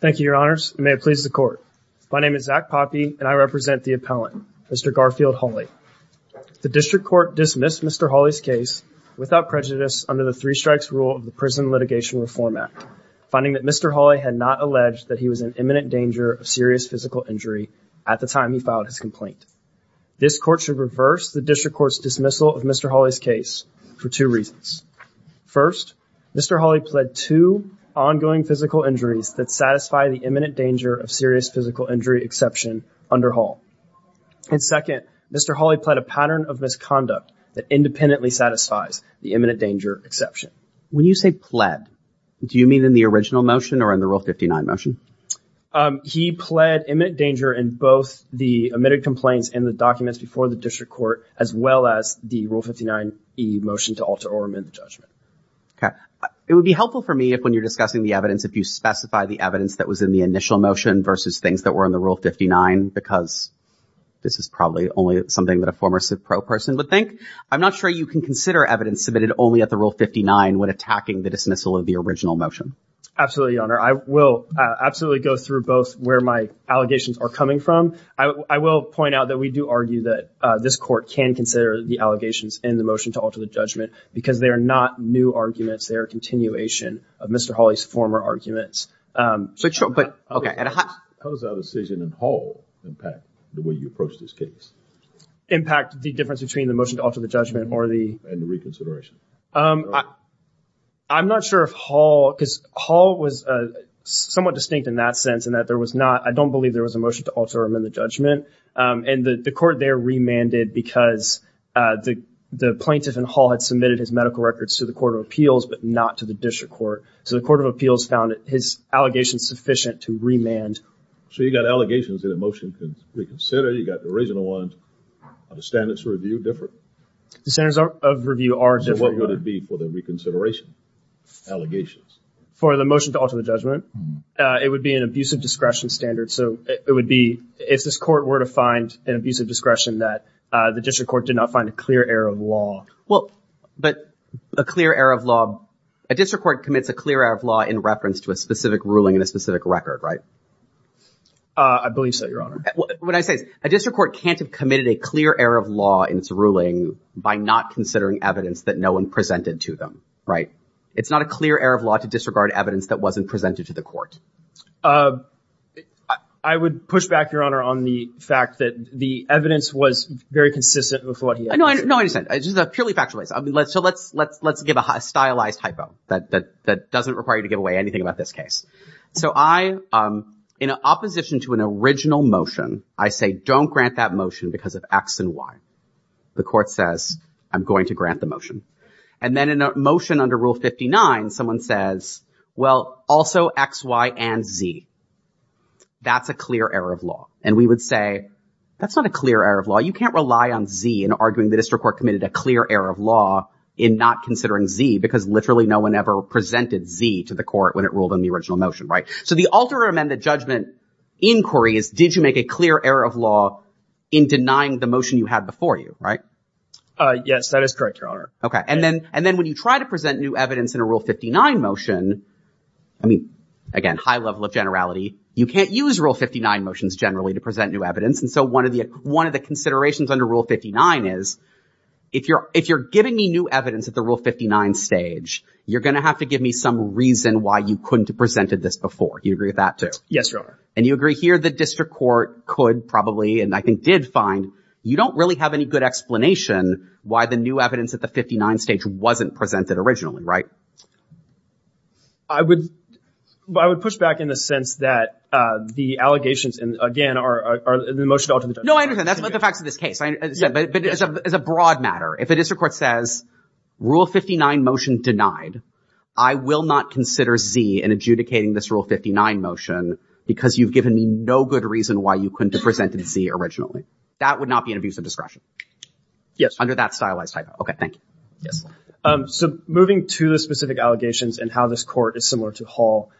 Thank you, your honors. May it please the court. My name is Zach Poppe and I represent the appellant, Mr. Garfield Holley. The district court dismissed Mr. Holley's case without prejudice under the three strikes rule of the Prison Litigation Reform Act, finding that Mr. Holley had not alleged that he was in imminent danger of serious physical injury at the time he filed his complaint. This court should reverse the district court's dismissal of Mr. Holley's case for two reasons. First, Mr. Holley pled two ongoing physical injuries that satisfy the imminent danger of serious physical injury exception under Hull. And second, Mr. Holley pled a pattern of misconduct that independently satisfies the imminent danger exception. When you say pled, do you mean in the original motion or in the Rule 59 motion? He pled imminent danger in both the admitted complaints and the documents before the district court, as well as the Rule 59e motion to alter or amend the judgment. Okay. It would be helpful for me if when you're discussing the evidence, if you specify the evidence that was in the initial motion versus things that were in the Rule 59, because this is probably only something that a former civ pro person would think. I'm not sure you can consider evidence submitted only at the Rule 59 when attacking the dismissal of the original motion. Absolutely, your honor. I will absolutely go through both where my allegations are coming from. I will point out that we do argue that this court can consider the allegations in the motion to alter the judgment because they are not new arguments. They are a continuation of Mr. Holley's former arguments. How does our decision in Hull impact the way you approach this case? Impact the difference between the motion to alter the judgment or the... And the reconsideration. I'm not sure if Hull, because Hull was somewhat distinct in that sense in that there was not, I don't believe there was a motion to alter or amend the judgment. And the court there remanded because the plaintiff in Hull had submitted his medical records to the Court of Appeals, but not to the District Court. So the Court of Appeals found his allegations sufficient to remand. So you got allegations that a motion can reconsider. You got the original ones. Are the standards of review different? The standards of review are different. So what would it be for the reconsideration allegations? For the motion to alter the judgment, it would be an abusive discretion standard. So it would be, if this court were to find an abusive discretion that the District Court did not find a clear error of law. Well, but a clear error of law, a District Court commits a clear error of law in reference to a specific ruling in a specific record, right? I believe so, Your Honor. What I say is a District Court can't have committed a clear error of law in its ruling by not considering evidence that no one presented to them, right? It's not a clear error of law to disregard evidence that wasn't presented to the court. I would push back, Your Honor, on the fact that the evidence was very consistent with what he had presented. No, I understand. It's just a purely factual case. So let's give a stylized hypo that doesn't require you to give away anything about this case. So I, in opposition to an original motion, I say, don't grant that motion because of X and Y. The court says, I'm going to grant the motion. And then in a motion under Rule 59, someone says, well, also X, Y, and Z. That's a clear error of law. And we would say, that's not a clear error of law. You can't rely on Z in arguing the District Court committed a clear error of law in not considering Z because literally no one ever presented Z to the court when it ruled on the original motion, right? So the alternate amendment judgment inquiry is, did you make a clear error of law in denying the motion you had before you, right? Yes, that is correct, Your Honor. Okay. And then, and then when you try to present new evidence in a Rule 59 motion, I mean, again, high level of generality, you can't use Rule 59 motions generally to present new evidence. And so one of the, one of the considerations under Rule 59 is, if you're, if you're giving me new evidence at the Rule 59 stage, you're going to have to give me some reason why you couldn't have presented this before. Do you agree with that too? Yes, Your Honor. And you agree here the District Court could probably, and I think did find, you don't really have any good explanation why the new evidence at the 59 stage wasn't presented originally, right? I would, I would push back in the sense that, uh, the allegations and again, are, are the motion to alter the judgment. No, I understand. That's the facts of this case. But as a, as a broad matter, if a District Court says Rule 59 motion denied, I will not consider Z in adjudicating this Rule 59 motion because you've given me no good reason why you couldn't have presented Z originally. That would not be an abuse of discretion. Yes. Under that stylized typo. Okay. Thank you. Yes. So moving to the specific allegations and how this court is similar to Hall.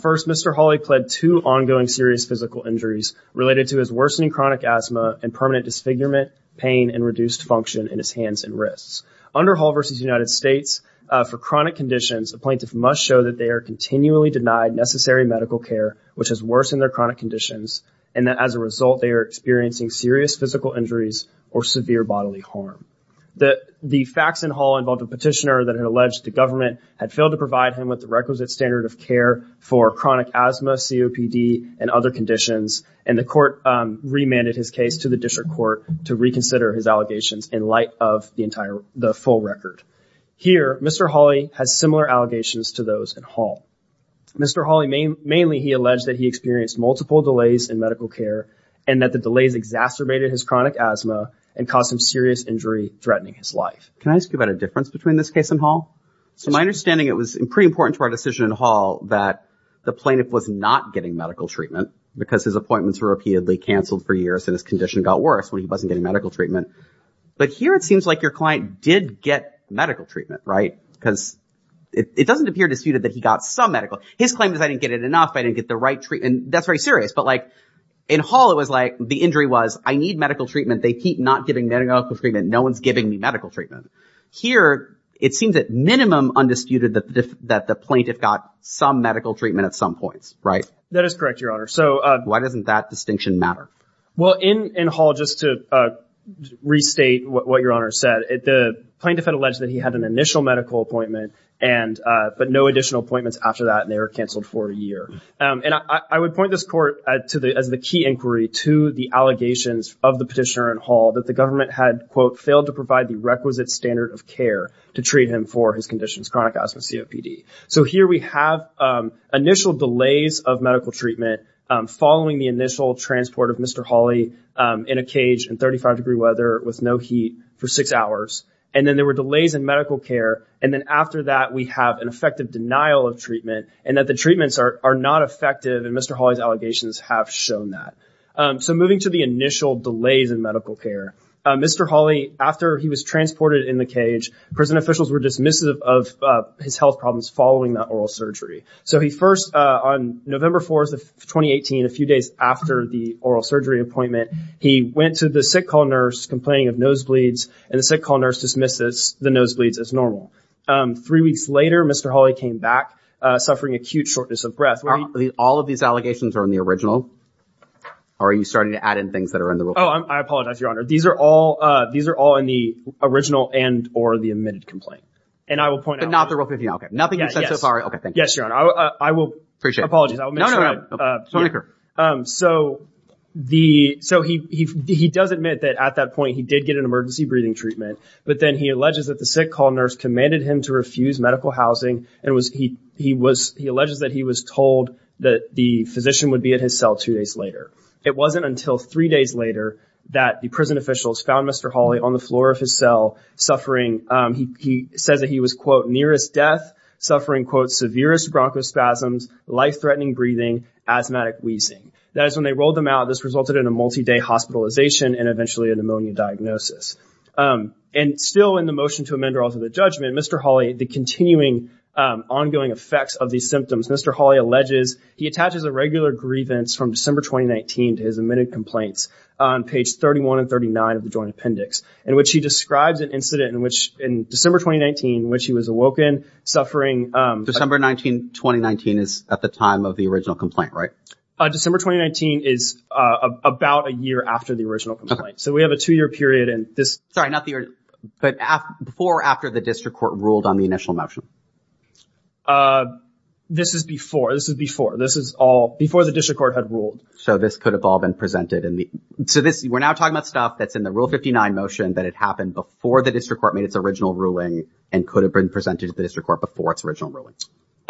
First, Mr. Hawley pled two ongoing serious physical injuries related to his worsening chronic asthma and permanent disfigurement, pain, and reduced function in his hands and wrists. Under Hall v. United States, for chronic conditions, a plaintiff must show that they are continually denied necessary medical care, which has worsened their chronic conditions. And that as a result, they are experiencing serious physical injuries or severe bodily harm. The facts in Hall involved a petitioner that had alleged the government had failed to provide him with the requisite standard of care for chronic asthma, COPD, and other conditions. And the court, um, remanded his case to the District Court to reconsider his allegations in light of the entire, the full record. Here, Mr. Hawley has similar allegations to those in Hall. Mr. Hawley, mainly he alleged that he experienced multiple delays in medical care and that the delays exacerbated his chronic asthma and caused some serious injury threatening his life. Can I ask you about a difference between this case and Hall? So my understanding, it was pretty important to our decision in Hall that the plaintiff was not getting medical treatment because his appointments were repeatedly canceled for years and his condition got worse when he wasn't getting medical treatment. But here it seems like your client did get medical treatment, right? Because it doesn't appear disputed that he got some medical. His claim is I didn't get it enough. I didn't get the right treatment. That's very serious. But like, in Hall, it was like the injury was I need medical treatment. They keep not giving medical treatment. No one's giving me medical treatment. Here, it seems at minimum undisputed that the plaintiff got some medical treatment at some points, right? That is correct, Your Honor. So, uh. Why doesn't that distinction matter? Well, in, in Hall, just to restate what Your Honor said, the plaintiff had alleged that he had an initial medical appointment and, uh, but no additional appointments after that and they were canceled for a year. Um, and I, I would point this court to the, as the key inquiry to the allegations of the petitioner in Hall that the government had, quote, failed to provide the requisite standard of care to treat him for his conditions, chronic asthma, COPD. So here we have, um, initial delays of medical treatment, um, following the initial transport of Mr. Hawley, um, in a cage in 35 degree weather with no heat for six hours. And then there were delays in medical care. And then after that, we have an effective denial of treatment and that the treatments are, are not effective. And Mr. Hawley's allegations have shown that. Um, so moving to the initial delays in medical care, uh, Mr. Hawley, after he was transported in the cage, prison officials were dismissive of, uh, his health problems following that oral surgery. So he first, uh, on November 4th of 2018, a few days after the oral surgery appointment, he went to the sick call nurse complaining of nosebleeds and the sick call nurse dismisses the nosebleeds as normal. Um, three weeks later, Mr. Hawley came back, uh, suffering acute shortness of breath. Are all of these allegations are in the original or are you starting to add in things that are in the rule? Oh, I apologize, your honor. These are all, uh, these are all in the original and or the admitted complaint. And I will point out. But not the rule 15. Okay. Nothing you've said so far. Okay. Thank you. Yes, your honor. I will, I will. Appreciate it. No, no, no. Um, so the, so he, he, he does admit that at that point he did get an emergency breathing treatment, but then he alleges that the sick call nurse commanded him to refuse medical housing. And it was, he, he was, he alleges that he was told that the physician would be at his cell two days later. It wasn't until three days later that the prison officials found Mr. Hawley on the floor of his cell suffering. Um, he, he says that he was quote nearest death suffering, quote, severest Bronco spasms, life-threatening breathing, asthmatic wheezing. That is when they rolled them out. This resulted in a multi-day hospitalization and eventually a pneumonia diagnosis. Um, and still in the motion to amend or alter the judgment, Mr. Hawley, the continuing, um, ongoing effects of these symptoms, Mr. Hawley alleges he attaches a regular grievance from December, 2019 to his admitted complaints on page 31 and 39 of the joint appendix in which he describes an incident in which in December, 2019, which he was awoken suffering, um, December 19, 2019 is at the time of the original complaint, right? Uh, December, 2019 is, uh, about a year after the original complaint. So we have a two-year period and this... Sorry, not the year, but before or after the district court ruled on the initial motion? Uh, this is before, this is before, this is all before the district court had ruled. So this could have all been presented in the, so this, we're now talking about stuff that's in the rule 59 motion that had happened before the district court made its original ruling and could have been presented to the district court before its original ruling.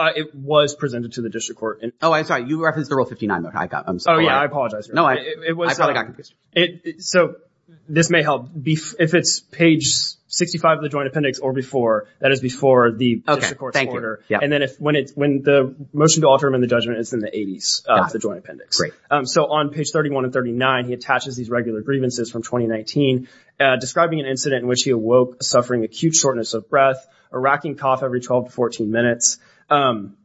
It was presented to the district court. Oh, I'm sorry. You referenced the rule 59. I got, I'm sorry. Oh yeah, I apologize. No, I, I probably got confused. So this may help if it's page 65 of the joint appendix or before that is before the district court's order. And then if, when it's, when the motion to alter him in the judgment is in the eighties of the joint appendix. Um, so on page 31 and 39, he attaches these regular grievances from 2019, uh, describing an incident in which he awoke suffering acute shortness of breath, a racking cough every 12 to 14 minutes. Um,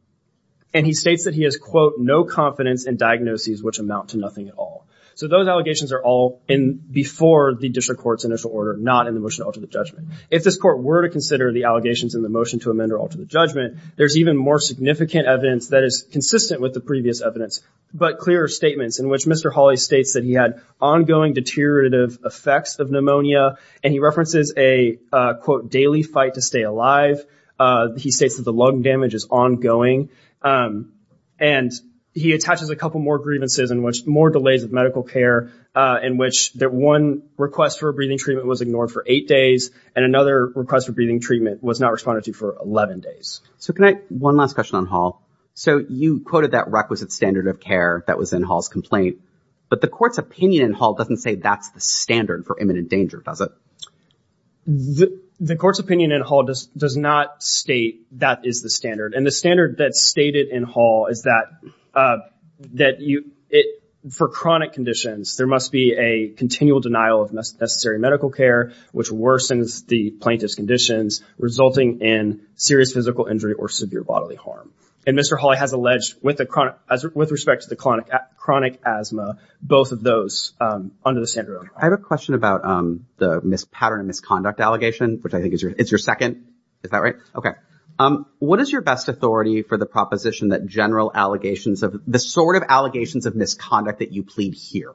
and he states that he has quote, no confidence in diagnoses, which amount to nothing at all. So those allegations are all in before the district court's initial order, not in the motion to alter the judgment. If this court were to consider the allegations in the motion to amend or alter the judgment, there's even more significant evidence that is consistent with the previous evidence, but clearer statements in which Mr. Hawley states that he had ongoing deteriorative effects of pneumonia and he references a quote, daily fight to stay alive. Uh, he states that the lung damage is ongoing. Um, and he attaches a couple more grievances in which more delays of medical care, uh, in which that one request for a breathing treatment was ignored for eight days and another request for breathing treatment was not responded to for 11 days. So can I, one last question on Hall. So you quoted that requisite standard of care that was in Hall's complaint, but the court's opinion in Hall doesn't say that's the standard for imminent danger, does it? The court's opinion in Hall does not state that is the standard. And the standard that's stated in Hall is that, uh, that you, it, for chronic conditions, there must be a continual denial of necessary medical care, which worsens the plaintiff's conditions resulting in serious physical injury or severe bodily harm. And Mr. Hawley has alleged with the chronic as, with respect to the chronic asthma, both of those, um, under the standard of care. I have a question about, um, the mispattern and misconduct allegation, which I think is your, it's your second. Is that right? Okay. Um, what is your best authority for the proposition that general allegations of the sort of allegations of misconduct that you plead here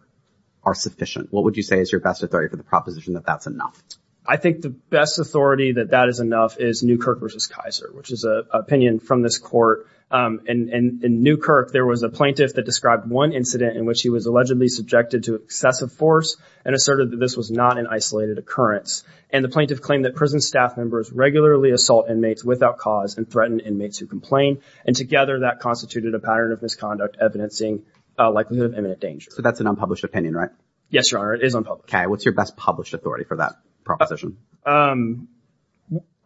are sufficient? What would you say is your best authority for the proposition that that's enough? I think the best authority that that is enough is Newkirk versus Kaiser, which is a opinion from this court. Um, and, and in Newkirk, there was a plaintiff that described one incident in which he was allegedly subjected to excessive force and asserted that this was not an isolated occurrence. And the plaintiff claimed that prison staff members regularly assault inmates without cause and threaten inmates who complain. And together that constituted a pattern of misconduct, evidencing a likelihood of imminent danger. So that's an unpublished opinion, right? Yes, Your Honor. It is unpublished. Okay. What's your best published authority for that proposition? Um,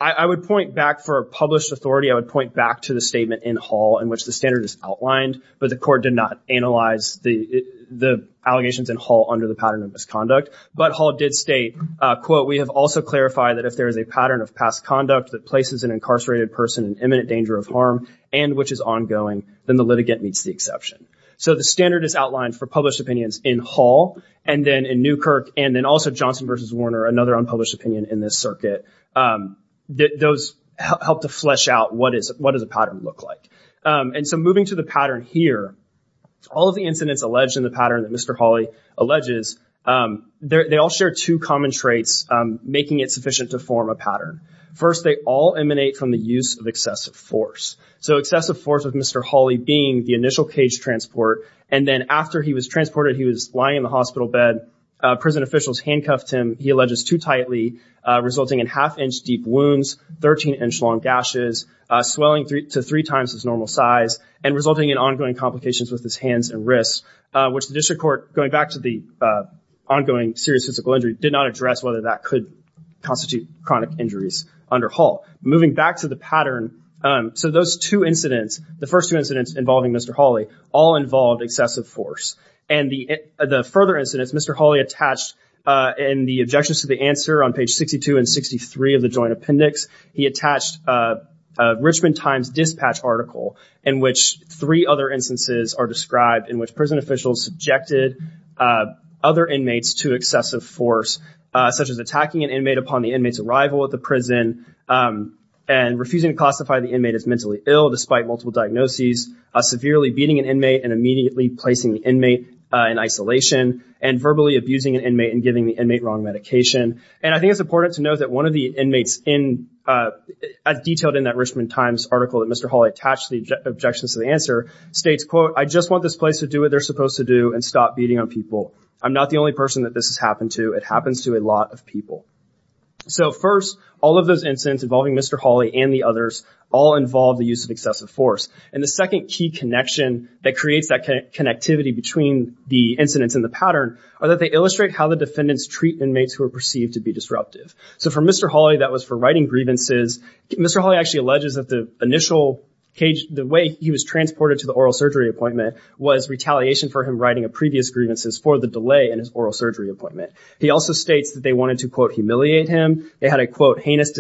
I, I would point back for a published authority. I would point back to the statement in Hall in which the standard is outlined, but the court did not analyze the, the allegations in Hall under the pattern of misconduct. But Hall did state, uh, quote, we have also clarified that if there is a pattern of past conduct that places an incarcerated person in imminent danger of harm, and which is ongoing, then the litigant meets the exception. So the standard is outlined for published opinions in Hall, and then in Newkirk, and then also Johnson versus Warner, another unpublished opinion in this circuit. Um, those help to flesh out what is, what does a pattern look like. Um, and so moving to the pattern here, all of the incidents alleged in the pattern that Mr. Hawley alleges, um, they're, they all share two common traits, um, making it sufficient to form a pattern. First, they all emanate from the use of excessive force. So excessive force of Mr. Hawley being the initial cage transport, and then after he was transported, he was lying in the hospital bed, uh, prison officials handcuffed him, he alleges, too resulting in half-inch deep wounds, 13-inch long gashes, uh, swelling to three times his normal size, and resulting in ongoing complications with his hands and wrists, uh, which the district court, going back to the, uh, ongoing serious physical injury, did not address whether that could constitute chronic injuries under Hall. Moving back to the pattern, um, so those two incidents, the first two incidents involving Mr. Hawley, all involved excessive force. And the, uh, the further incidents Mr. Hawley attached, uh, in the objections to the answer on page 62 and 63 of the joint appendix, he attached, uh, a Richmond Times dispatch article in which three other instances are described in which prison officials subjected, uh, other inmates to excessive force, uh, such as attacking an inmate upon the inmate's arrival at the prison, um, and refusing to classify the inmate as mentally ill despite multiple diagnoses, uh, severely beating an inmate and immediately placing the inmate, uh, in isolation, and verbally abusing an inmate and giving the inmate wrong medication. And I think it's important to note that one of the inmates in, uh, as detailed in that Richmond Times article that Mr. Hawley attached to the objections to the answer states, quote, I just want this place to do what they're supposed to do and stop beating on people. I'm not the only person that this has happened to. It happens to a lot of people. So first, all of those incidents involving Mr. Hawley and the others all involve the use of excessive force. And the second key connection that creates that connectivity between the incidents and the pattern are that they illustrate how the defendants treat inmates who are perceived to be disruptive. So for Mr. Hawley, that was for writing grievances. Mr. Hawley actually alleges that the initial cage, the way he was transported to the oral surgery appointment was retaliation for him writing a previous grievances for the delay in his oral surgery appointment. He also states that they wanted to, quote, humiliate him. They had a, quote, he asked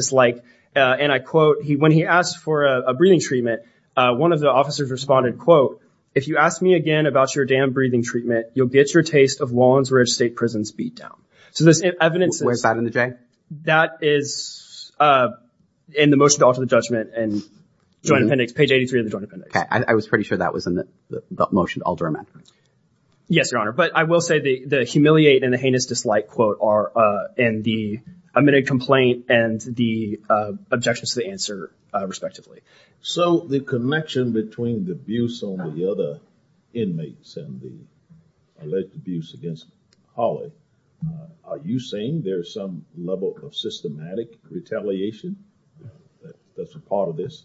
for a breathing treatment. Uh, one of the officers responded, quote, if you ask me again about your damn breathing treatment, you'll get your taste of Lawrence Ridge state prisons beat down. So this evidence is bad in the J that is, uh, in the motion to alter the judgment and joint appendix page 83 of the joint appendix. I was pretty sure that was in the motion. Yes, your honor. But I will say the, the humiliate and the heinous dislike quote are, and the admitted complaint and the objections to the answer respectively. So the connection between the abuse on the other inmates and the alleged abuse against Holly, are you saying there's some level of systematic retaliation that's a part of this?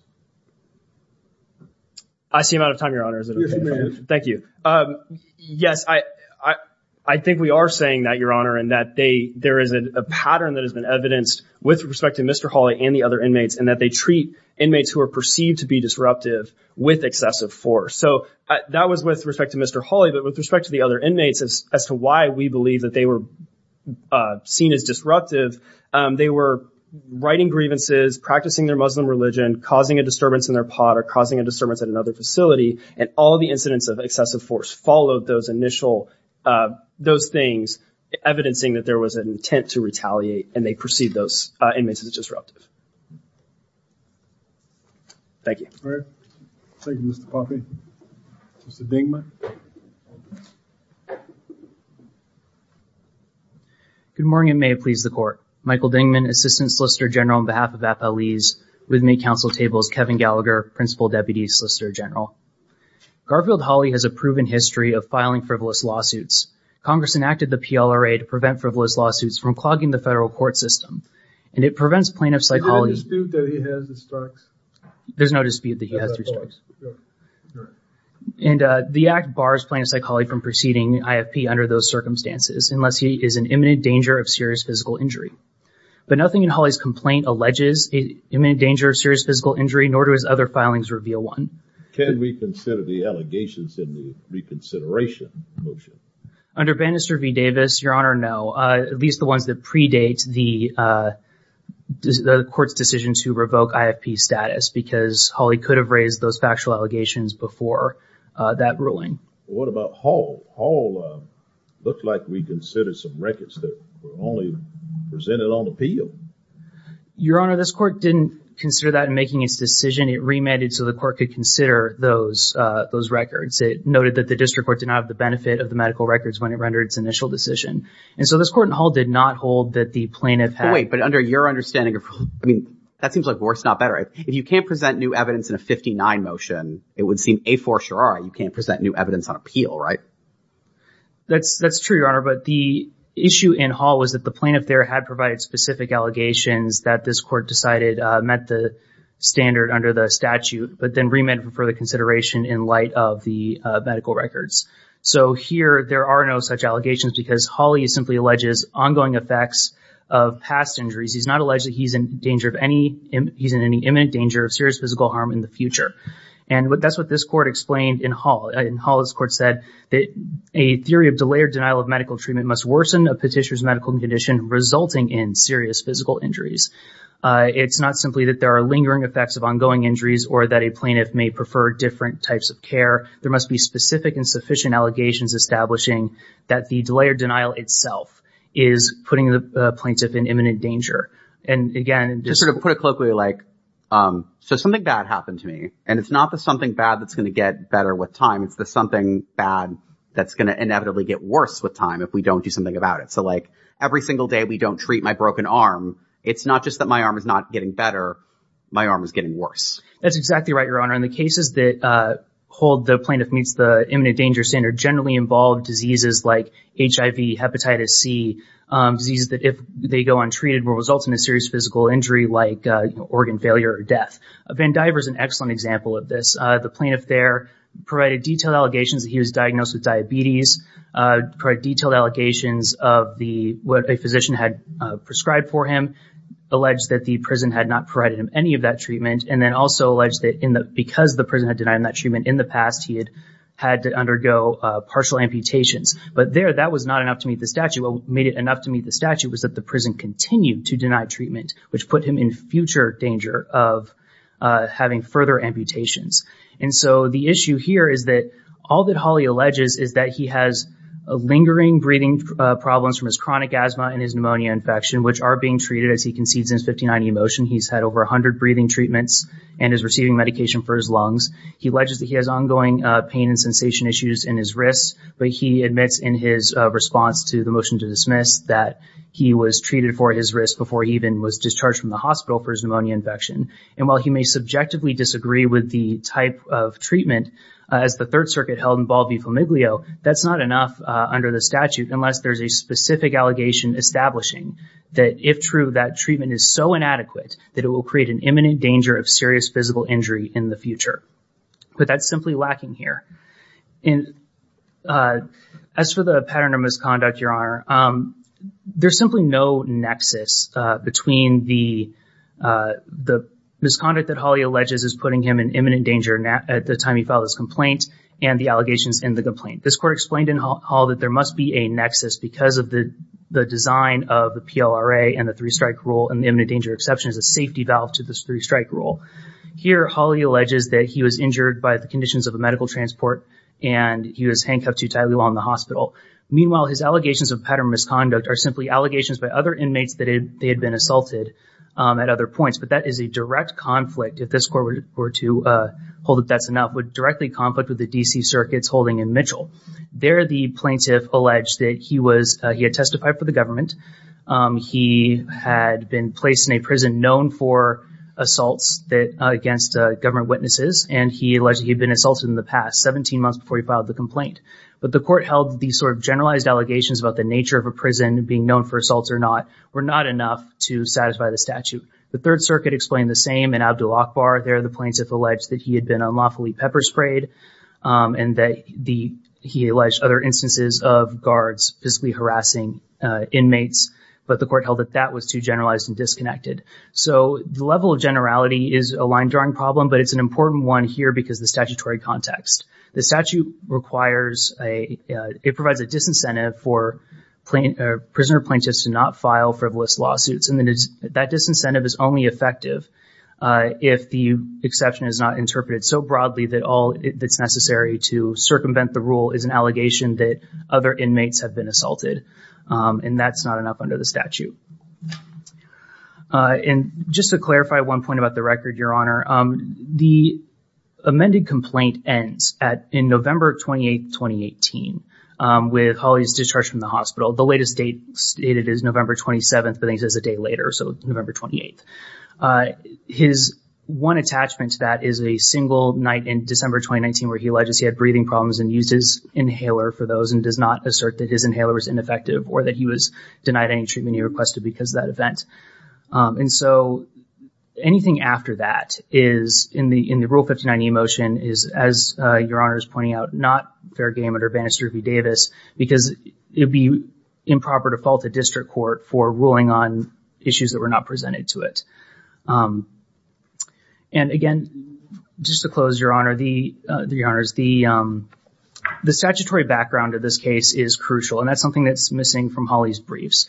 I see him out of time, your honor. Thank you. Um, yes, I, I, I think we are saying that your is a pattern that has been evidenced with respect to Mr. Holly and the other inmates and that they treat inmates who are perceived to be disruptive with excessive force. So that was with respect to Mr. Holly, but with respect to the other inmates as to why we believe that they were, uh, seen as disruptive, um, they were writing grievances, practicing their Muslim religion, causing a disturbance in their pot or causing a disturbance at another facility. And all of the incidents of excessive force followed those initial, uh, those things evidencing that there was an intent to retaliate and they perceived those inmates as disruptive. Thank you. All right. Thank you, Mr. Poppy. Mr. Dingman. Good morning and may it please the court. Michael Dingman, Assistant Solicitor General on behalf of FLEs with me, counsel tables, Kevin Gallagher, Principal Deputy Solicitor General. Garfield Holly has a proven history of filing frivolous lawsuits. Congress enacted the PLRA to prevent frivolous lawsuits from clogging the federal court system and it prevents plaintiffs like Holly. There's no dispute that he has. And, uh, the act bars plaintiffs like Holly from proceeding IFP under those circumstances, unless he is in imminent danger of serious physical injury. But nothing in Holly's complaint alleges imminent danger of serious physical injury, nor do his other filings reveal one. Can we consider the allegations in the reconsideration motion? Under Bannister v. Davis, Your Honor, no. Uh, at least the ones that predate the, uh, the court's decision to revoke IFP status because Holly could have raised those factual allegations before, uh, that ruling. What about Hall? Hall, uh, looked like we considered some records that were only presented on appeal. Your Honor, this court didn't consider that in making its decision. It remanded so the court could consider those, uh, those records. It noted that the district court did not have the benefit of the medical records when it rendered its initial decision. And so this court in Hall did not hold that the plaintiff had. Wait, but under your understanding of, I mean, that seems like worse, not better. If you can't present new evidence in a 59 motion, it would seem a for sure. You can't present new evidence on appeal, right? That's, that's true, Your Honor. But the issue in Hall was that the plaintiff there had provided specific allegations that this court decided, uh, met the standard under the statute, but then remanded for further consideration in light of the, uh, medical records. So here there are no such allegations because Holly simply alleges ongoing effects of past injuries. He's not alleged that he's in danger of any, he's in any imminent danger of serious physical harm in the future. And that's what this court explained in Hall. In Hall, this court said that a theory of delay or denial of medical treatment must worsen a petitioner's medical condition resulting in serious physical injuries. Uh, it's not simply that there are lingering effects of ongoing injuries or that a plaintiff may prefer different types of care. There must be specific and sufficient allegations establishing that the delay or denial itself is putting the plaintiff in imminent danger. And again, just sort of put it colloquially like, um, so something bad happened to me and it's not the something bad that's going to get better with time. It's the something bad that's going to inevitably get worse with time if we don't do something about it. So like every single day we don't treat my broken arm. It's not just that my arm is not getting better. My arm is getting worse. That's exactly right, Your Honor. And the cases that, uh, hold the plaintiff meets the imminent danger standard generally involve diseases like HIV, hepatitis C, um, diseases that if they go untreated will result in a serious physical injury like, uh, organ failure or death. Van Diver is an excellent example of this. Uh, the plaintiff there provided detailed allegations that he was diagnosed with diabetes, uh, detailed allegations of the, what a physician had prescribed for him, alleged that the prison had not provided him any of that treatment, and then also alleged that in the, because the prison had denied him that treatment in the past, he had had to undergo, uh, partial amputations. But there that was not enough to meet the statute. What made it enough to meet the statute was that the prison continued to deny treatment, which put him in future danger of, uh, having further amputations. And so the issue here is that all that Hawley alleges is that he has a lingering breathing, uh, problems from his chronic asthma and his pneumonia infection, which are being treated as he concedes in his 59E motion. He's had over a hundred breathing treatments and is receiving medication for his lungs. He alleges that he has ongoing, uh, pain and sensation issues in his wrists, but he admits in his, uh, response to the motion to dismiss that he was treated for his wrist before he even was discharged from the hospital for his pneumonia infection. And while he may subjectively disagree with the type of treatment, uh, as the Third Circuit held in Ball v. Flamiglio, that's not enough, uh, under the statute unless there's a specific allegation establishing that if true, that treatment is so inadequate that it will create an imminent danger of serious physical injury in the future. But that's simply lacking here. And, uh, as for the pattern of misconduct, Your Honor, um, there's simply no nexus, uh, between the, uh, the misconduct that Hawley alleges is putting him in imminent danger at the time he filed his complaint and the allegations in the complaint. This court explained in Hawley that there must be a nexus because of the, the design of the PLRA and the three-strike rule, and the imminent danger exception is a safety valve to this three-strike rule. Here, Hawley alleges that he was injured by the conditions of a medical transport and he was handcuffed to a tightly wound in the hospital. Meanwhile, his allegations of pattern misconduct are simply allegations by other inmates that they had been assaulted, um, at other points. But that is a direct conflict, if this court were to, uh, hold that that's enough, would directly conflict with the D.C. Circuit's holding in Mitchell. There, the plaintiff alleged that he was, uh, he had testified for the government. Um, he had been placed in a prison known for assaults that, uh, against, uh, government witnesses, and he alleged he'd been assaulted in the past, 17 months before he filed the complaint. But the court held these sort of generalized allegations about the nature of a prison, being known for assaults or not, were not enough to satisfy the statute. The Third Circuit explained the same in Abdul-Akbar. There, the plaintiff alleged that he had been unlawfully pepper sprayed, um, and that the, he alleged other instances of guards physically harassing, uh, inmates, but the court held that that was too generalized and disconnected. So, the level of generality is a line-drawing problem, but it's an important one here because the statutory context. The statute requires a, uh, it provides a disincentive for plaint- uh, prisoner plaintiffs to not file frivolous lawsuits, and that disincentive is only effective, uh, if the exception is not interpreted so broadly that all that's necessary to circumvent the rule is an allegation that other inmates have been assaulted, um, and that's not enough under the statute. Uh, and just to clarify one point about the record, Your Honor, um, the amended complaint ends at, in November 28th, 2018, um, with Hawley's discharge from the hospital. The latest date stated is November 27th, but then it says a day later, so November 28th. Uh, his one attachment to that is a single night in December 2019 where he alleges he had breathing problems and used his inhaler for those and does not assert that his inhaler was ineffective or that he was denied any treatment he requested because of that event. Um, and so, anything after that is, in the, in the Rule 59E motion is, as, uh, Your Honor is pointing out, not fair game under Bannister v. Davis because it would be improper to fall to district court for ruling on issues that were not presented to it. Um, and again, just to close, Your Honor, the, uh, Your Honors, the, um, the statutory background of this case is crucial, and that's something that's missing from Hawley's briefs.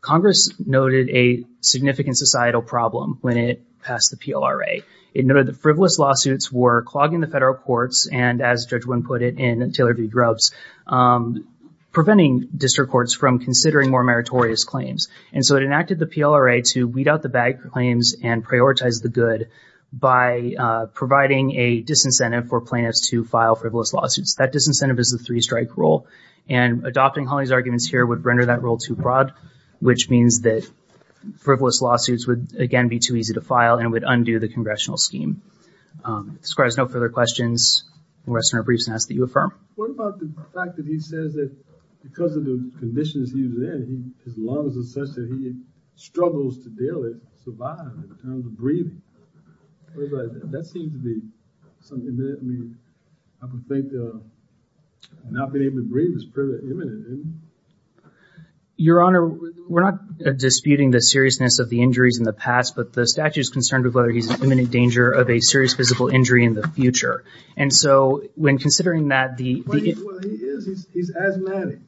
Congress noted a significant societal problem when it passed the PLRA. It noted frivolous lawsuits were clogging the federal courts and, as Judge Wynn put it in Taylor v. Grubbs, um, preventing district courts from considering more meritorious claims. And so, it enacted the PLRA to weed out the bad claims and prioritize the good by, uh, providing a disincentive for plaintiffs to file frivolous lawsuits. That disincentive is a three-strike rule, and adopting Hawley's arguments here would render that rule too broad, which means that frivolous lawsuits would, again, be too easy to file and would undo the congressional scheme. Um, this requires no further questions. I'm going to ask Senator Briefs to ask that you affirm. What about the fact that he says that because of the conditions he was in, his lungs are such that he struggles to deal with, survive in terms of breathing? That seems to be something that, I would think, uh, not being able to breathe is pretty imminent, isn't it? Your Honor, we're not disputing the seriousness of the injuries in the past, but the statute is concerned with whether he's in imminent danger of a serious physical injury in the future. And so, when considering that, the... Well, he is, he's asthmatic,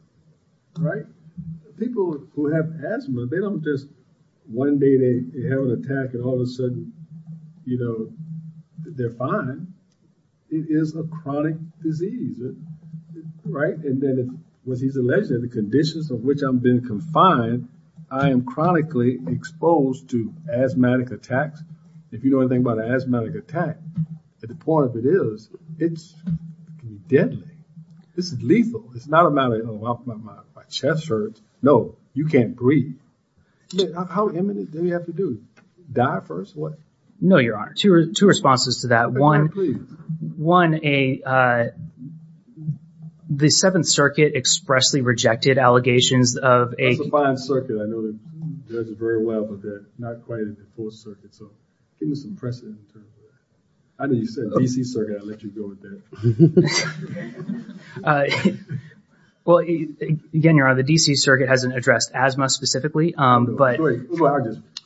right? People who have asthma, they don't just, one day they have an attack and all of a sudden, you know, they're fine. It is a chronic disease, right? And then, what he's alleging, the conditions of which I'm being confined, I am chronically exposed to asthmatic attacks. If you know anything about an asthmatic attack, at the point of it is, it's deadly. This is lethal. It's not a matter of, oh, my chest hurts. No, you can't breathe. How imminent do we have to do? Die first? What? No, Your Honor, two responses to that. One, the Seventh Circuit expressly rejected allegations of a... That's a fine circuit. I know that judges very well, but they're not quite in the Fourth Circuit. So, give me some precedent in terms of that. I know you said the D.C. Circuit, I'll let you go with that. Well, again, Your Honor, the D.C. Circuit hasn't addressed asthma specifically, but...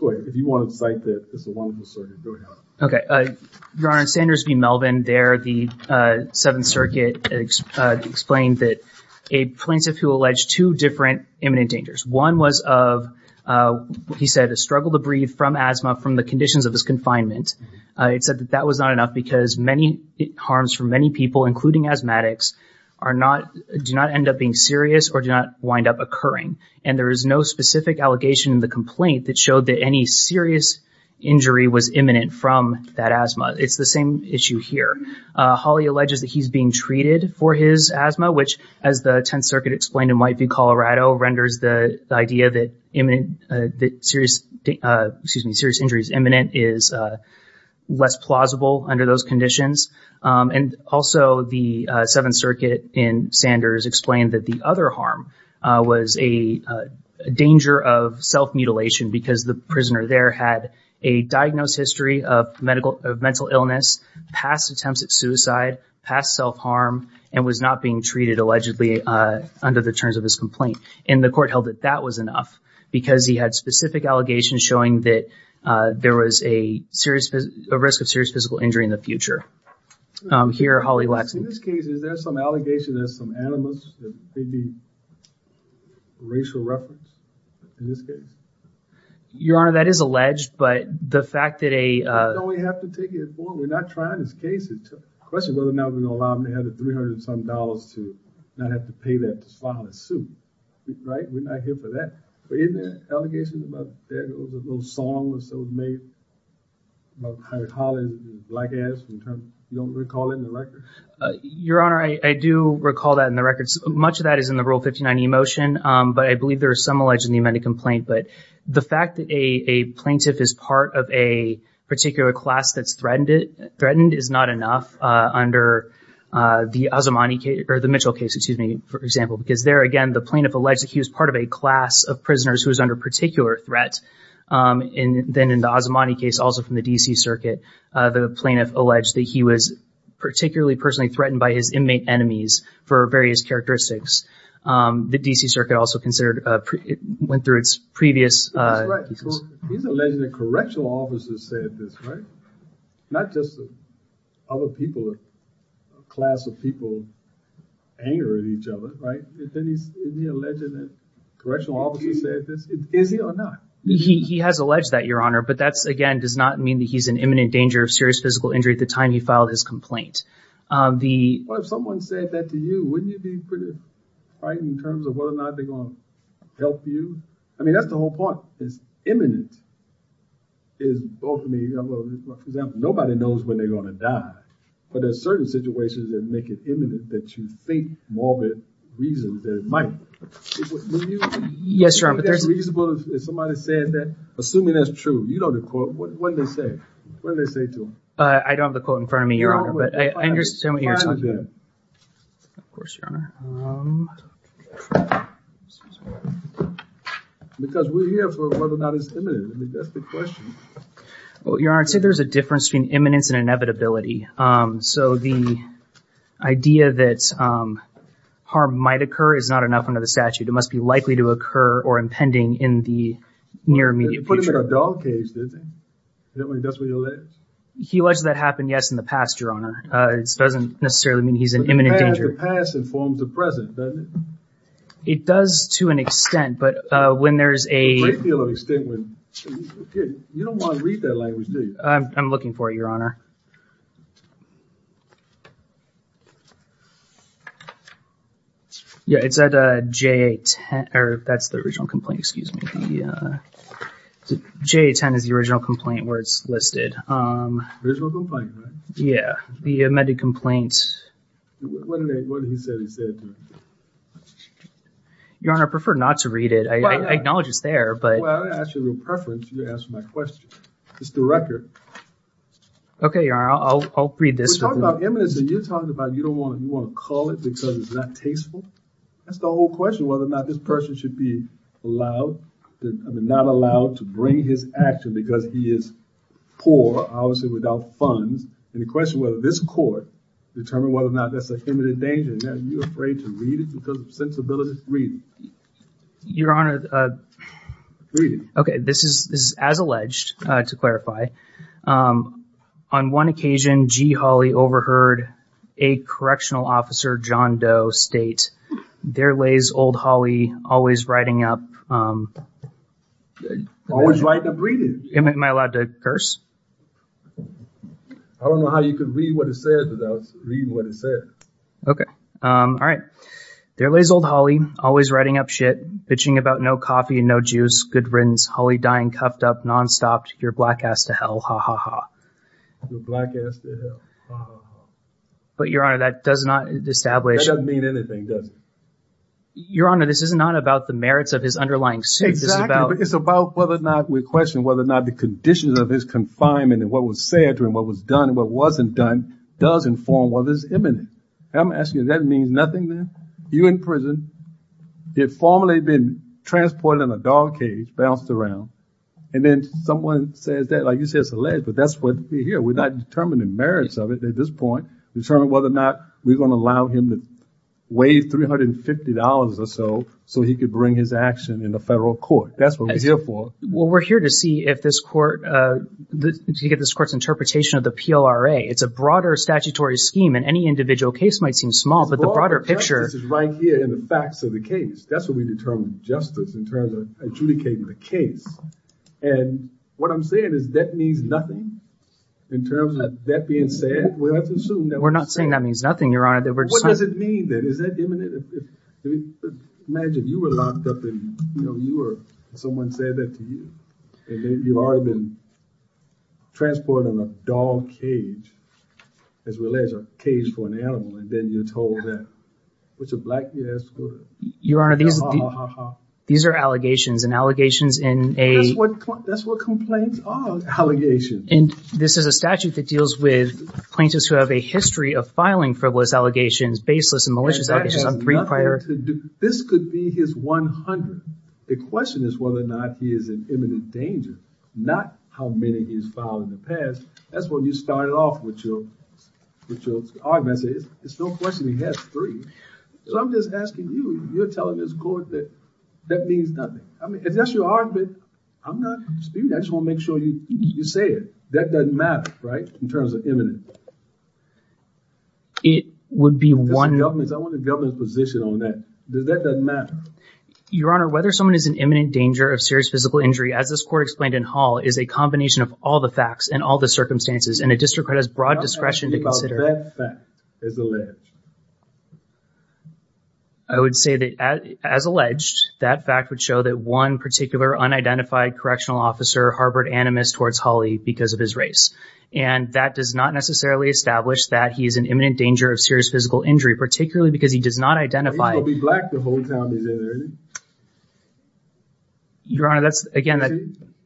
Go ahead. If you want to cite that, it's a wonderful circuit. Go ahead. Okay. Your Honor, Sanders v. Melvin, there, the Seventh Circuit explained that a plaintiff who alleged two different imminent dangers. One was of, he said, a struggle to breathe from asthma from the conditions of his confinement. He said that that was not enough because many harms for many people, including asthmatics, do not end up being serious or do not wind up occurring. And there is no specific allegation in the complaint that showed that any serious injury was imminent from that asthma. It's the same issue here. Hawley alleges that he's being treated for his asthma, which, as the Tenth Circuit explained in Whiteview, Colorado, renders the idea that serious injuries imminent is less plausible under those conditions. And also, the Seventh Circuit in Sanders explained that the other harm was a danger of self-mutilation because the prisoner there had a diagnosed history of mental illness, past attempts at suicide, past self-harm, and was not being treated, allegedly, under the terms of his complaint. And the court held that that was enough because he had specific allegations showing that there was a risk of serious physical injury in the future. Here, Hawley lacks... In this case, is there some allegation, there's some animus, maybe racial reference in this case? Your Honor, that is alleged, but the fact that a... We have to take it forward. We're not trying this case. It's a question whether or not we're going to allow him to have the 300-some dollars to not have to pay that to file a suit, right? We're not here for that. But isn't there allegations about there was a little song that was made about Howard Hawley, the black ass, you don't recall it in the record? Your Honor, I do recall that in the records. Much of that is in the Rule 59e motion, but I believe there are some alleged in the amended complaint. But the fact that a plaintiff is part of a particular class that's threatened is not enough under the Mitchell case, excuse me, for example. Because there, again, the plaintiff alleged that he was part of a class of prisoners who was under particular threat. And then in the Azamani case, also from the D.C. Circuit, the plaintiff alleged that he was particularly personally threatened by his inmate enemies for various characteristics. The D.C. Circuit also considered, went through its previous... He's alleging that correctional officers said this, right? Not just other people, a class of people anger at each other, right? Isn't he alleging that correctional officers said this? Is he or not? He has alleged that, Your Honor. But that, again, does not mean that he's in imminent danger of serious physical injury at the time he filed his complaint. The... Well, if someone said that to you, wouldn't you be pretty frightened in terms of whether or not they're going to help you? I mean, that's the whole point, is imminent. Is both of me... For example, nobody knows when they're going to die, but there's certain situations that make it imminent that you think more of a reason than it might. Would you think it's reasonable if somebody said that? Assuming that's true, you know the court, what did they say? What did they say to him? I don't have the quote in front of me, Your Honor, but I understand what you're talking about. Of course, Your Honor. Because we're here for whether or not it's imminent. I mean, that's the question. Well, Your Honor, I'd say there's a difference between imminence and inevitability. So the idea that harm might occur is not enough under the statute. It must be likely to occur or impending in the near immediate future. They put him in a dog cage, didn't they? That's what you alleged? He alleged that happened, yes, in the past, Your Honor. It doesn't necessarily mean he's in imminent danger. The past informs the present, doesn't it? It does to an extent, but when there's a... You don't want to read that language, do you? I'm looking for it, Your Honor. Yeah, it's at JA10. That's the original complaint, excuse me. Yeah, JA10 is the original complaint where it's listed. Original complaint, right? Yeah, the amended complaint. What did he say he said to him? Your Honor, I prefer not to read it. I acknowledge it's there, but... Well, I didn't ask you a real preference. You asked my question. It's the record. Okay, Your Honor, I'll read this. We're talking about imminence and you're talking about you don't want to call it because it's not tasteful. That's the whole question, whether or not this person should be allowed, I mean, not allowed to bring his action because he is poor, obviously without funds, and the question whether this court determined whether or not that's a imminent danger. Now, are you afraid to read it because of sensibility? Read it. Your Honor, okay, this is as alleged, to clarify. On one occasion, G. Hawley overheard a correctional officer, John Doe, state, there lays old Hawley always writing up... Always writing up reading. Am I allowed to curse? I don't know how you could read what it said without reading what it said. Okay. All right. There lays old Hawley always writing up shit, bitching about no coffee and no juice, good riddance, Hawley dying, cuffed up, nonstop, your black ass to hell, ha ha ha. Your black ass to hell, ha ha ha. But Your Honor, that does not establish... That doesn't mean anything, does it? Your Honor, this is not about the merits of his underlying suit. Exactly. It's about whether or not we question whether or not the conditions of his confinement and what was said to him, what was done and what wasn't done, does inform whether it's imminent. I'm asking you, that means nothing then? You're in prison. He had formerly been transported in a dog cage, bounced around. And then someone says that, like you said, it's alleged, but that's what we're here. We're not determining merits of it at this point. Determine whether or not we're going to allow him to waive $350 or so, so he could bring his action in the federal court. That's what we're here for. Well, we're here to see if this court, to get this court's interpretation of the PLRA. It's a broader statutory scheme and individual case might seem small, but the broader picture... This is right here in the facts of the case. That's what we determine justice in terms of adjudicating the case. And what I'm saying is that means nothing in terms of that being said. We're not saying that means nothing, Your Honor. What does it mean then? Is that imminent? Imagine you were locked up and someone said that to you and then you've already been transported in a dog cage as well as a cage for an animal, and then you're told that. What's a black guy has to go to? Your Honor, these are allegations and allegations in a... That's what complaints are, allegations. And this is a statute that deals with plaintiffs who have a history of filing frivolous allegations, baseless and malicious allegations on three prior... And that has nothing to do... This could be his 100. The question is whether or not he is in imminent danger, not how many he's filed in the past. That's what you started off with your argument. It's no question he has three. So I'm just asking you, you're telling this court that that means nothing. I mean, if that's your argument, I'm not speaking. I just want to make sure you say it. That doesn't matter, right, in terms of imminent. It would be one... I want the government's position on that. That doesn't matter. Your Honor, whether someone is in imminent danger of serious physical injury, as this court explained in Hall, is a combination of all the facts and all the circumstances, and a district court has broad discretion to consider... What about that fact as alleged? I would say that as alleged, that fact would show that one particular unidentified correctional officer harbored animus towards Hawley because of his race. And that does not necessarily establish that he is in imminent danger of serious physical injury, particularly because he does not identify... He's going to be black the whole time he's in there, isn't he? Your Honor, that's, again, that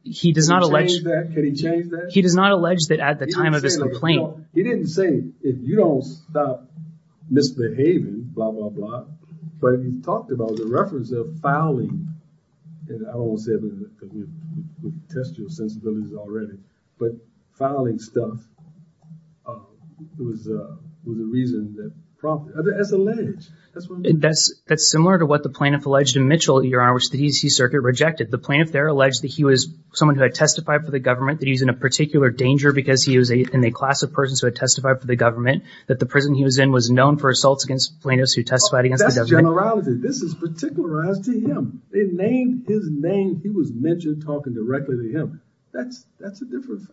he does not... Can he change that? Can he change that? He does not allege that at the time of his complaint... He didn't say, if you don't stop misbehaving, blah, blah, blah. But he talked about the reference of fouling, and I don't want to say it because we've tested your sensibilities already, but fouling stuff was a reason that prompted... As alleged. That's similar to what the plaintiff alleged in Mitchell, Your Honor, which the D.C. Circuit rejected. The plaintiff there alleged that he was someone who had testified for the government, that he's in a particular danger because he was in a class of persons who had testified for the government, that the prison he was in was known for assaults against plaintiffs who testified against the government. That's generality. This is particularized to him. They named his name. He was mentioned talking directly to him. That's a different...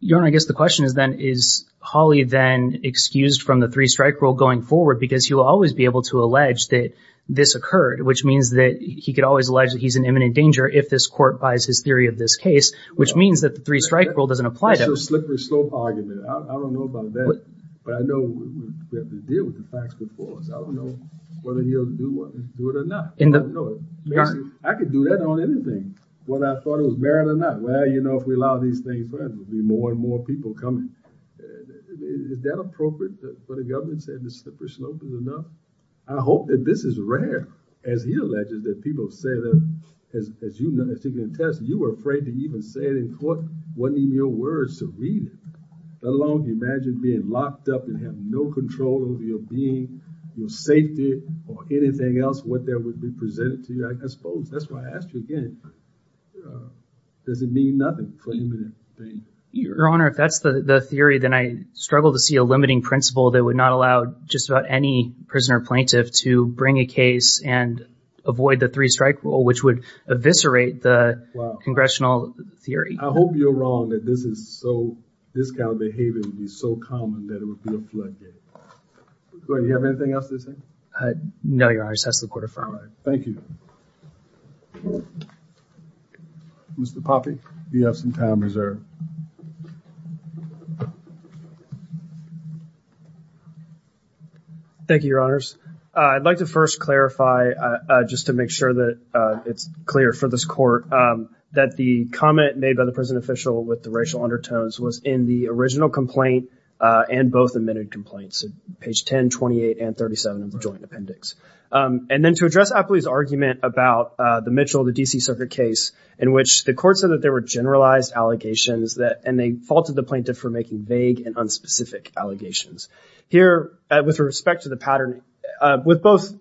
Your Honor, I guess the question is then, is Hawley then excused from the three-strike rule going forward because he will always be able to allege that this occurred, which means that he could always allege that he's in imminent danger if this court buys his theory of this case, which means that the three-strike rule doesn't apply to him. That's a slippery slope argument. I don't know about that, but I know we have to deal with the facts before us. I don't know whether he'll do it or not. I don't know it. Basically, I could do that on anything, whether I thought it was merit or not. Well, you know, if we allow these things further, there will be more and more people coming. Is that appropriate for the government to say this is a slippery slope or not? I hope that this is rare. As he alleges that people say that, as you can attest, you were afraid to even say it in court. It wasn't in your words to read it, let alone imagine being locked up and have no control over your being, your safety, or anything else, what that would be presented to you, I suppose. That's why I asked you again, uh, does it mean nothing for him to think here? Your Honor, if that's the theory, then I struggle to see a limiting principle that would not allow just about any prisoner plaintiff to bring a case and avoid the three-strike rule, which would eviscerate the congressional theory. I hope you're wrong that this is so, this kind of behavior would be so common that it would be a floodgate. You have anything else to say? Uh, no, Your Honor. Just ask the court to affirm it. All right. Thank you. Mr. Poppe, you have some time reserved. Thank you, Your Honors. Uh, I'd like to first clarify, uh, uh, just to make sure that, uh, it's clear for this court, um, that the comment made by the prison official with the racial undertones was in the original complaint, uh, and both admitted complaints, page 10, 28, and 37 of the joint appendix. Um, and then to address Apley's argument about, uh, the Mitchell, the D.C. circuit case in which the court said that there were generalized allegations that, and they faulted the plaintiff for making vague and unspecific allegations. Here, uh, with respect to the pattern, uh, with both,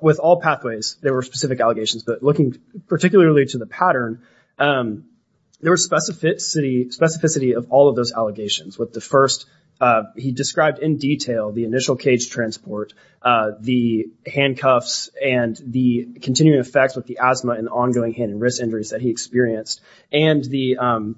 with all pathways, there were specific allegations, but looking particularly to the pattern, um, there were specificity, specificity of all of those allegations with the first, uh, he described in detail the initial cage transport, uh, the handcuffs and the continuing effects with the asthma and ongoing hand and wrist injuries that he experienced, and the, um,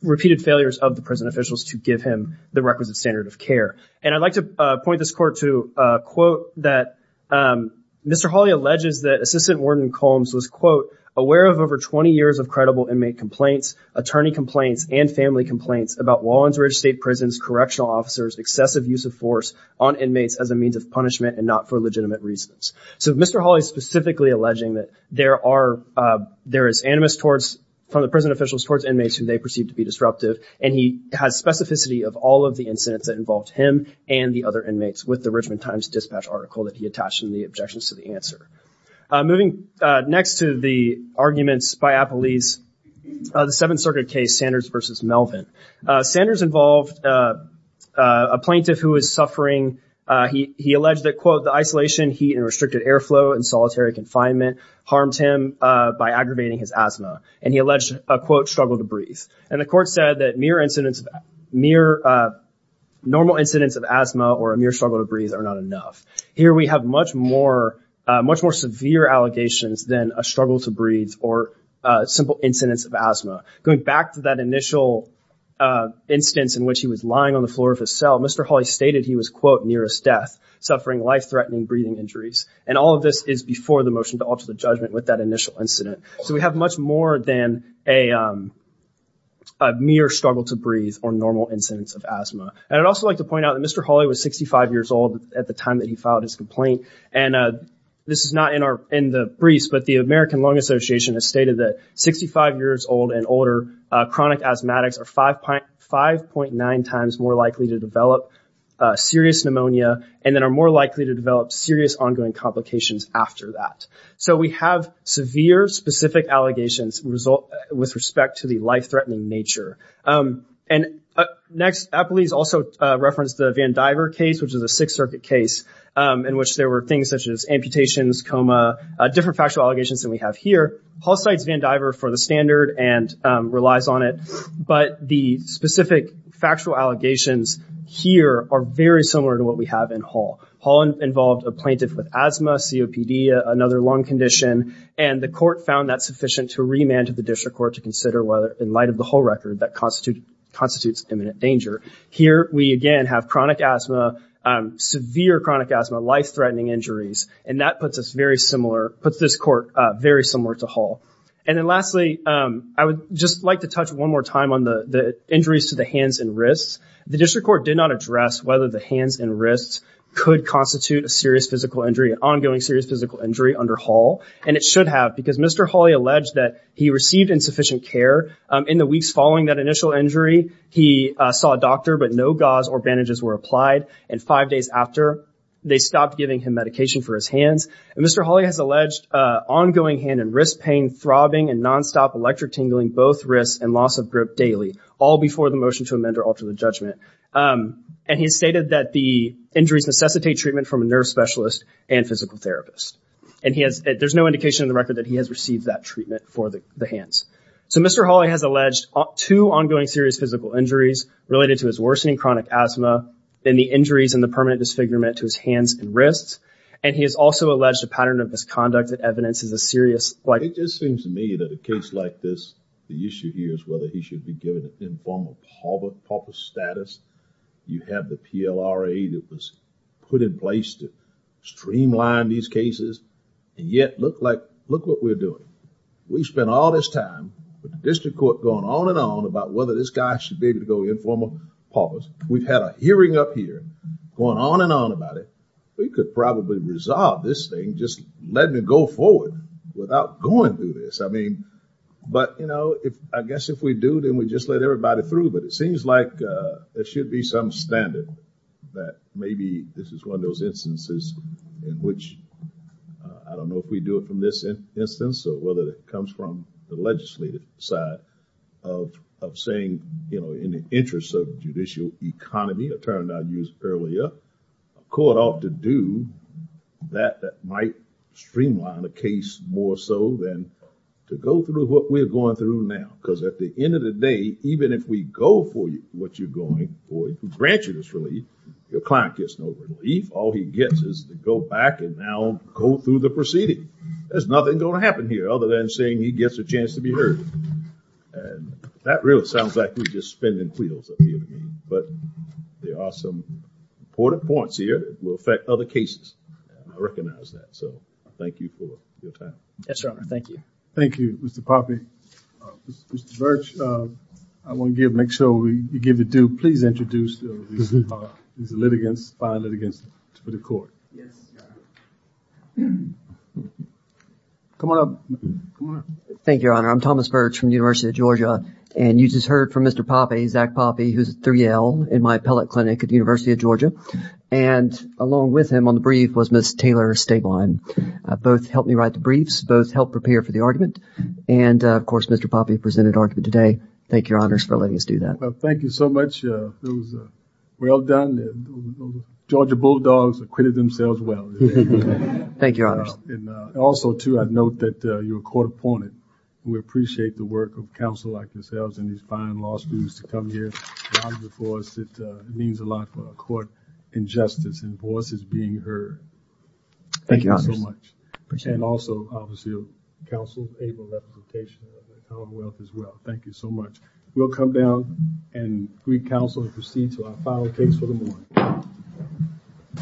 repeated failures of the prison officials to give him the requisite standard of care. And I'd like to, uh, point this court to, uh, quote that, um, Mr. Hawley alleges that Assistant Warden Combs was, quote, aware of over 20 years of credible inmate complaints, attorney complaints, and family complaints about Walensridge State Prison's correctional officers' excessive use of force on inmates as a means of punishment and not for legitimate reasons. So Mr. Hawley's specifically alleging that there are, uh, there is animus towards, from the prison officials towards inmates who they perceive to be disruptive, and he has specificity of all of the incidents that involved him and the other inmates with the Richmond Times Dispatch article that he attached in the objections to the answer. Uh, moving, uh, next to the arguments by Apley's, uh, the Seventh Circuit case, Sanders versus Melvin. Uh, Sanders involved, uh, uh, a plaintiff who was suffering, uh, he, he alleged that, quote, the isolation, heat, and restricted airflow in solitary confinement harmed him, uh, by aggravating his asthma. And he alleged a, quote, struggle to breathe. And the court said that mere incidents of, mere, uh, normal incidents of asthma or a mere struggle to breathe are not enough. Here we have much more, uh, much more severe allegations than a struggle to breathe or, uh, simple incidents of asthma. Going back to that initial, uh, instance in which he was lying on the floor of his cell, Mr. Hawley stated he was, quote, nearest death, suffering life-threatening breathing injuries. And all of this is before the motion to alter the judgment with that initial incident. So we have much more than a, um, a mere struggle to breathe or normal incidents of asthma. And I'd also like to point out that Mr. Hawley was 65 years old at the time that he filed his complaint. And, uh, this is not in our, in the briefs, but the American Lung Association has stated that 65 years old and older, uh, chronic asthmatics are 5.9 times more likely to develop, uh, serious pneumonia and then are more likely to develop serious ongoing complications after that. So we have severe specific allegations result with respect to the um, in which there were things such as amputations, coma, uh, different factual allegations than we have here. Hall cites Van Diver for the standard and, um, relies on it, but the specific factual allegations here are very similar to what we have in Hall. Hall involved a plaintiff with asthma, COPD, another lung condition, and the court found that sufficient to remand to the district court to consider whether, in light of the whole record, that constitute constitutes imminent danger. Here, we again have chronic asthma, um, severe chronic asthma, life-threatening injuries, and that puts us very similar, puts this court, uh, very similar to Hall. And then lastly, um, I would just like to touch one more time on the, the injuries to the hands and wrists. The district court did not address whether the hands and wrists could constitute a serious physical injury, an ongoing serious physical injury under Hall, and it should have because Mr. Hawley alleged that he received insufficient care, um, in the initial injury. He, uh, saw a doctor, but no gauze or bandages were applied, and five days after, they stopped giving him medication for his hands. And Mr. Hawley has alleged, uh, ongoing hand and wrist pain, throbbing, and nonstop electric tingling, both wrists, and loss of grip daily, all before the motion to amend or alter the judgment. Um, and he stated that the injuries necessitate treatment from a nerve specialist and physical therapist. And he has, there's no indication in the record that he has received that treatment for the, the hands. So Mr. Hawley has alleged two ongoing serious physical injuries related to his worsening chronic asthma, and the injuries and the permanent disfigurement to his hands and wrists. And he has also alleged a pattern of misconduct that evidences a serious- It just seems to me that a case like this, the issue here is whether he should be given an informal pauper, pauper status. You have the PLRA that was put in place to streamline these cases, and yet look like, look what we're doing. We've been all this time with the district court going on and on about whether this guy should be able to go informal paupers. We've had a hearing up here going on and on about it. We could probably resolve this thing, just let me go forward without going through this. I mean, but you know, if, I guess if we do, then we just let everybody through. But it seems like, uh, there should be some standard that maybe this is one of those instances in which, uh, I don't know if we do it this instance or whether it comes from the legislative side of, of saying, you know, in the interest of judicial economy, a term that I used earlier, a court ought to do that, that might streamline the case more so than to go through what we're going through now. Because at the end of the day, even if we go for you, what you're going for, grant you this relief, your client gets no relief. All he gets is to go back and now go through the proceeding. There's nothing going to happen here other than saying he gets a chance to be heard. And that really sounds like we're just spinning wheels at the end of the day. But there are some important points here that will affect other cases. I recognize that. So thank you for your time. Yes, Your Honor. Thank you. Thank you, Mr. Poppe. Mr. Virch, I want to give, make sure you give the due, please introduce these litigants, file it against the court. Yes, Your Honor. Come on up. Thank you, Your Honor. I'm Thomas Virch from the University of Georgia. And you just heard from Mr. Poppe, Zach Poppe, who's a 3L in my appellate clinic at the University of Georgia. And along with him on the brief was Ms. Taylor Steglein. Both helped me write the briefs, both helped prepare for the argument. And of course, Mr. Poppe presented argument today. Thank you, Your Honor, for letting us do that. Thank you so much. It was well done. Georgia Bulldogs acquitted themselves well. Thank you, Your Honor. And also, too, I'd note that you're a court opponent. We appreciate the work of counsel like yourselves and these fine law students to come here before us. It means a lot for our court and justice and voices being heard. Thank you so much. And also, obviously, counsel Abel Lefkowitz of the Commonwealth as well. Thank you so much. We'll come down and greet counsel and proceed to our final case for the morning.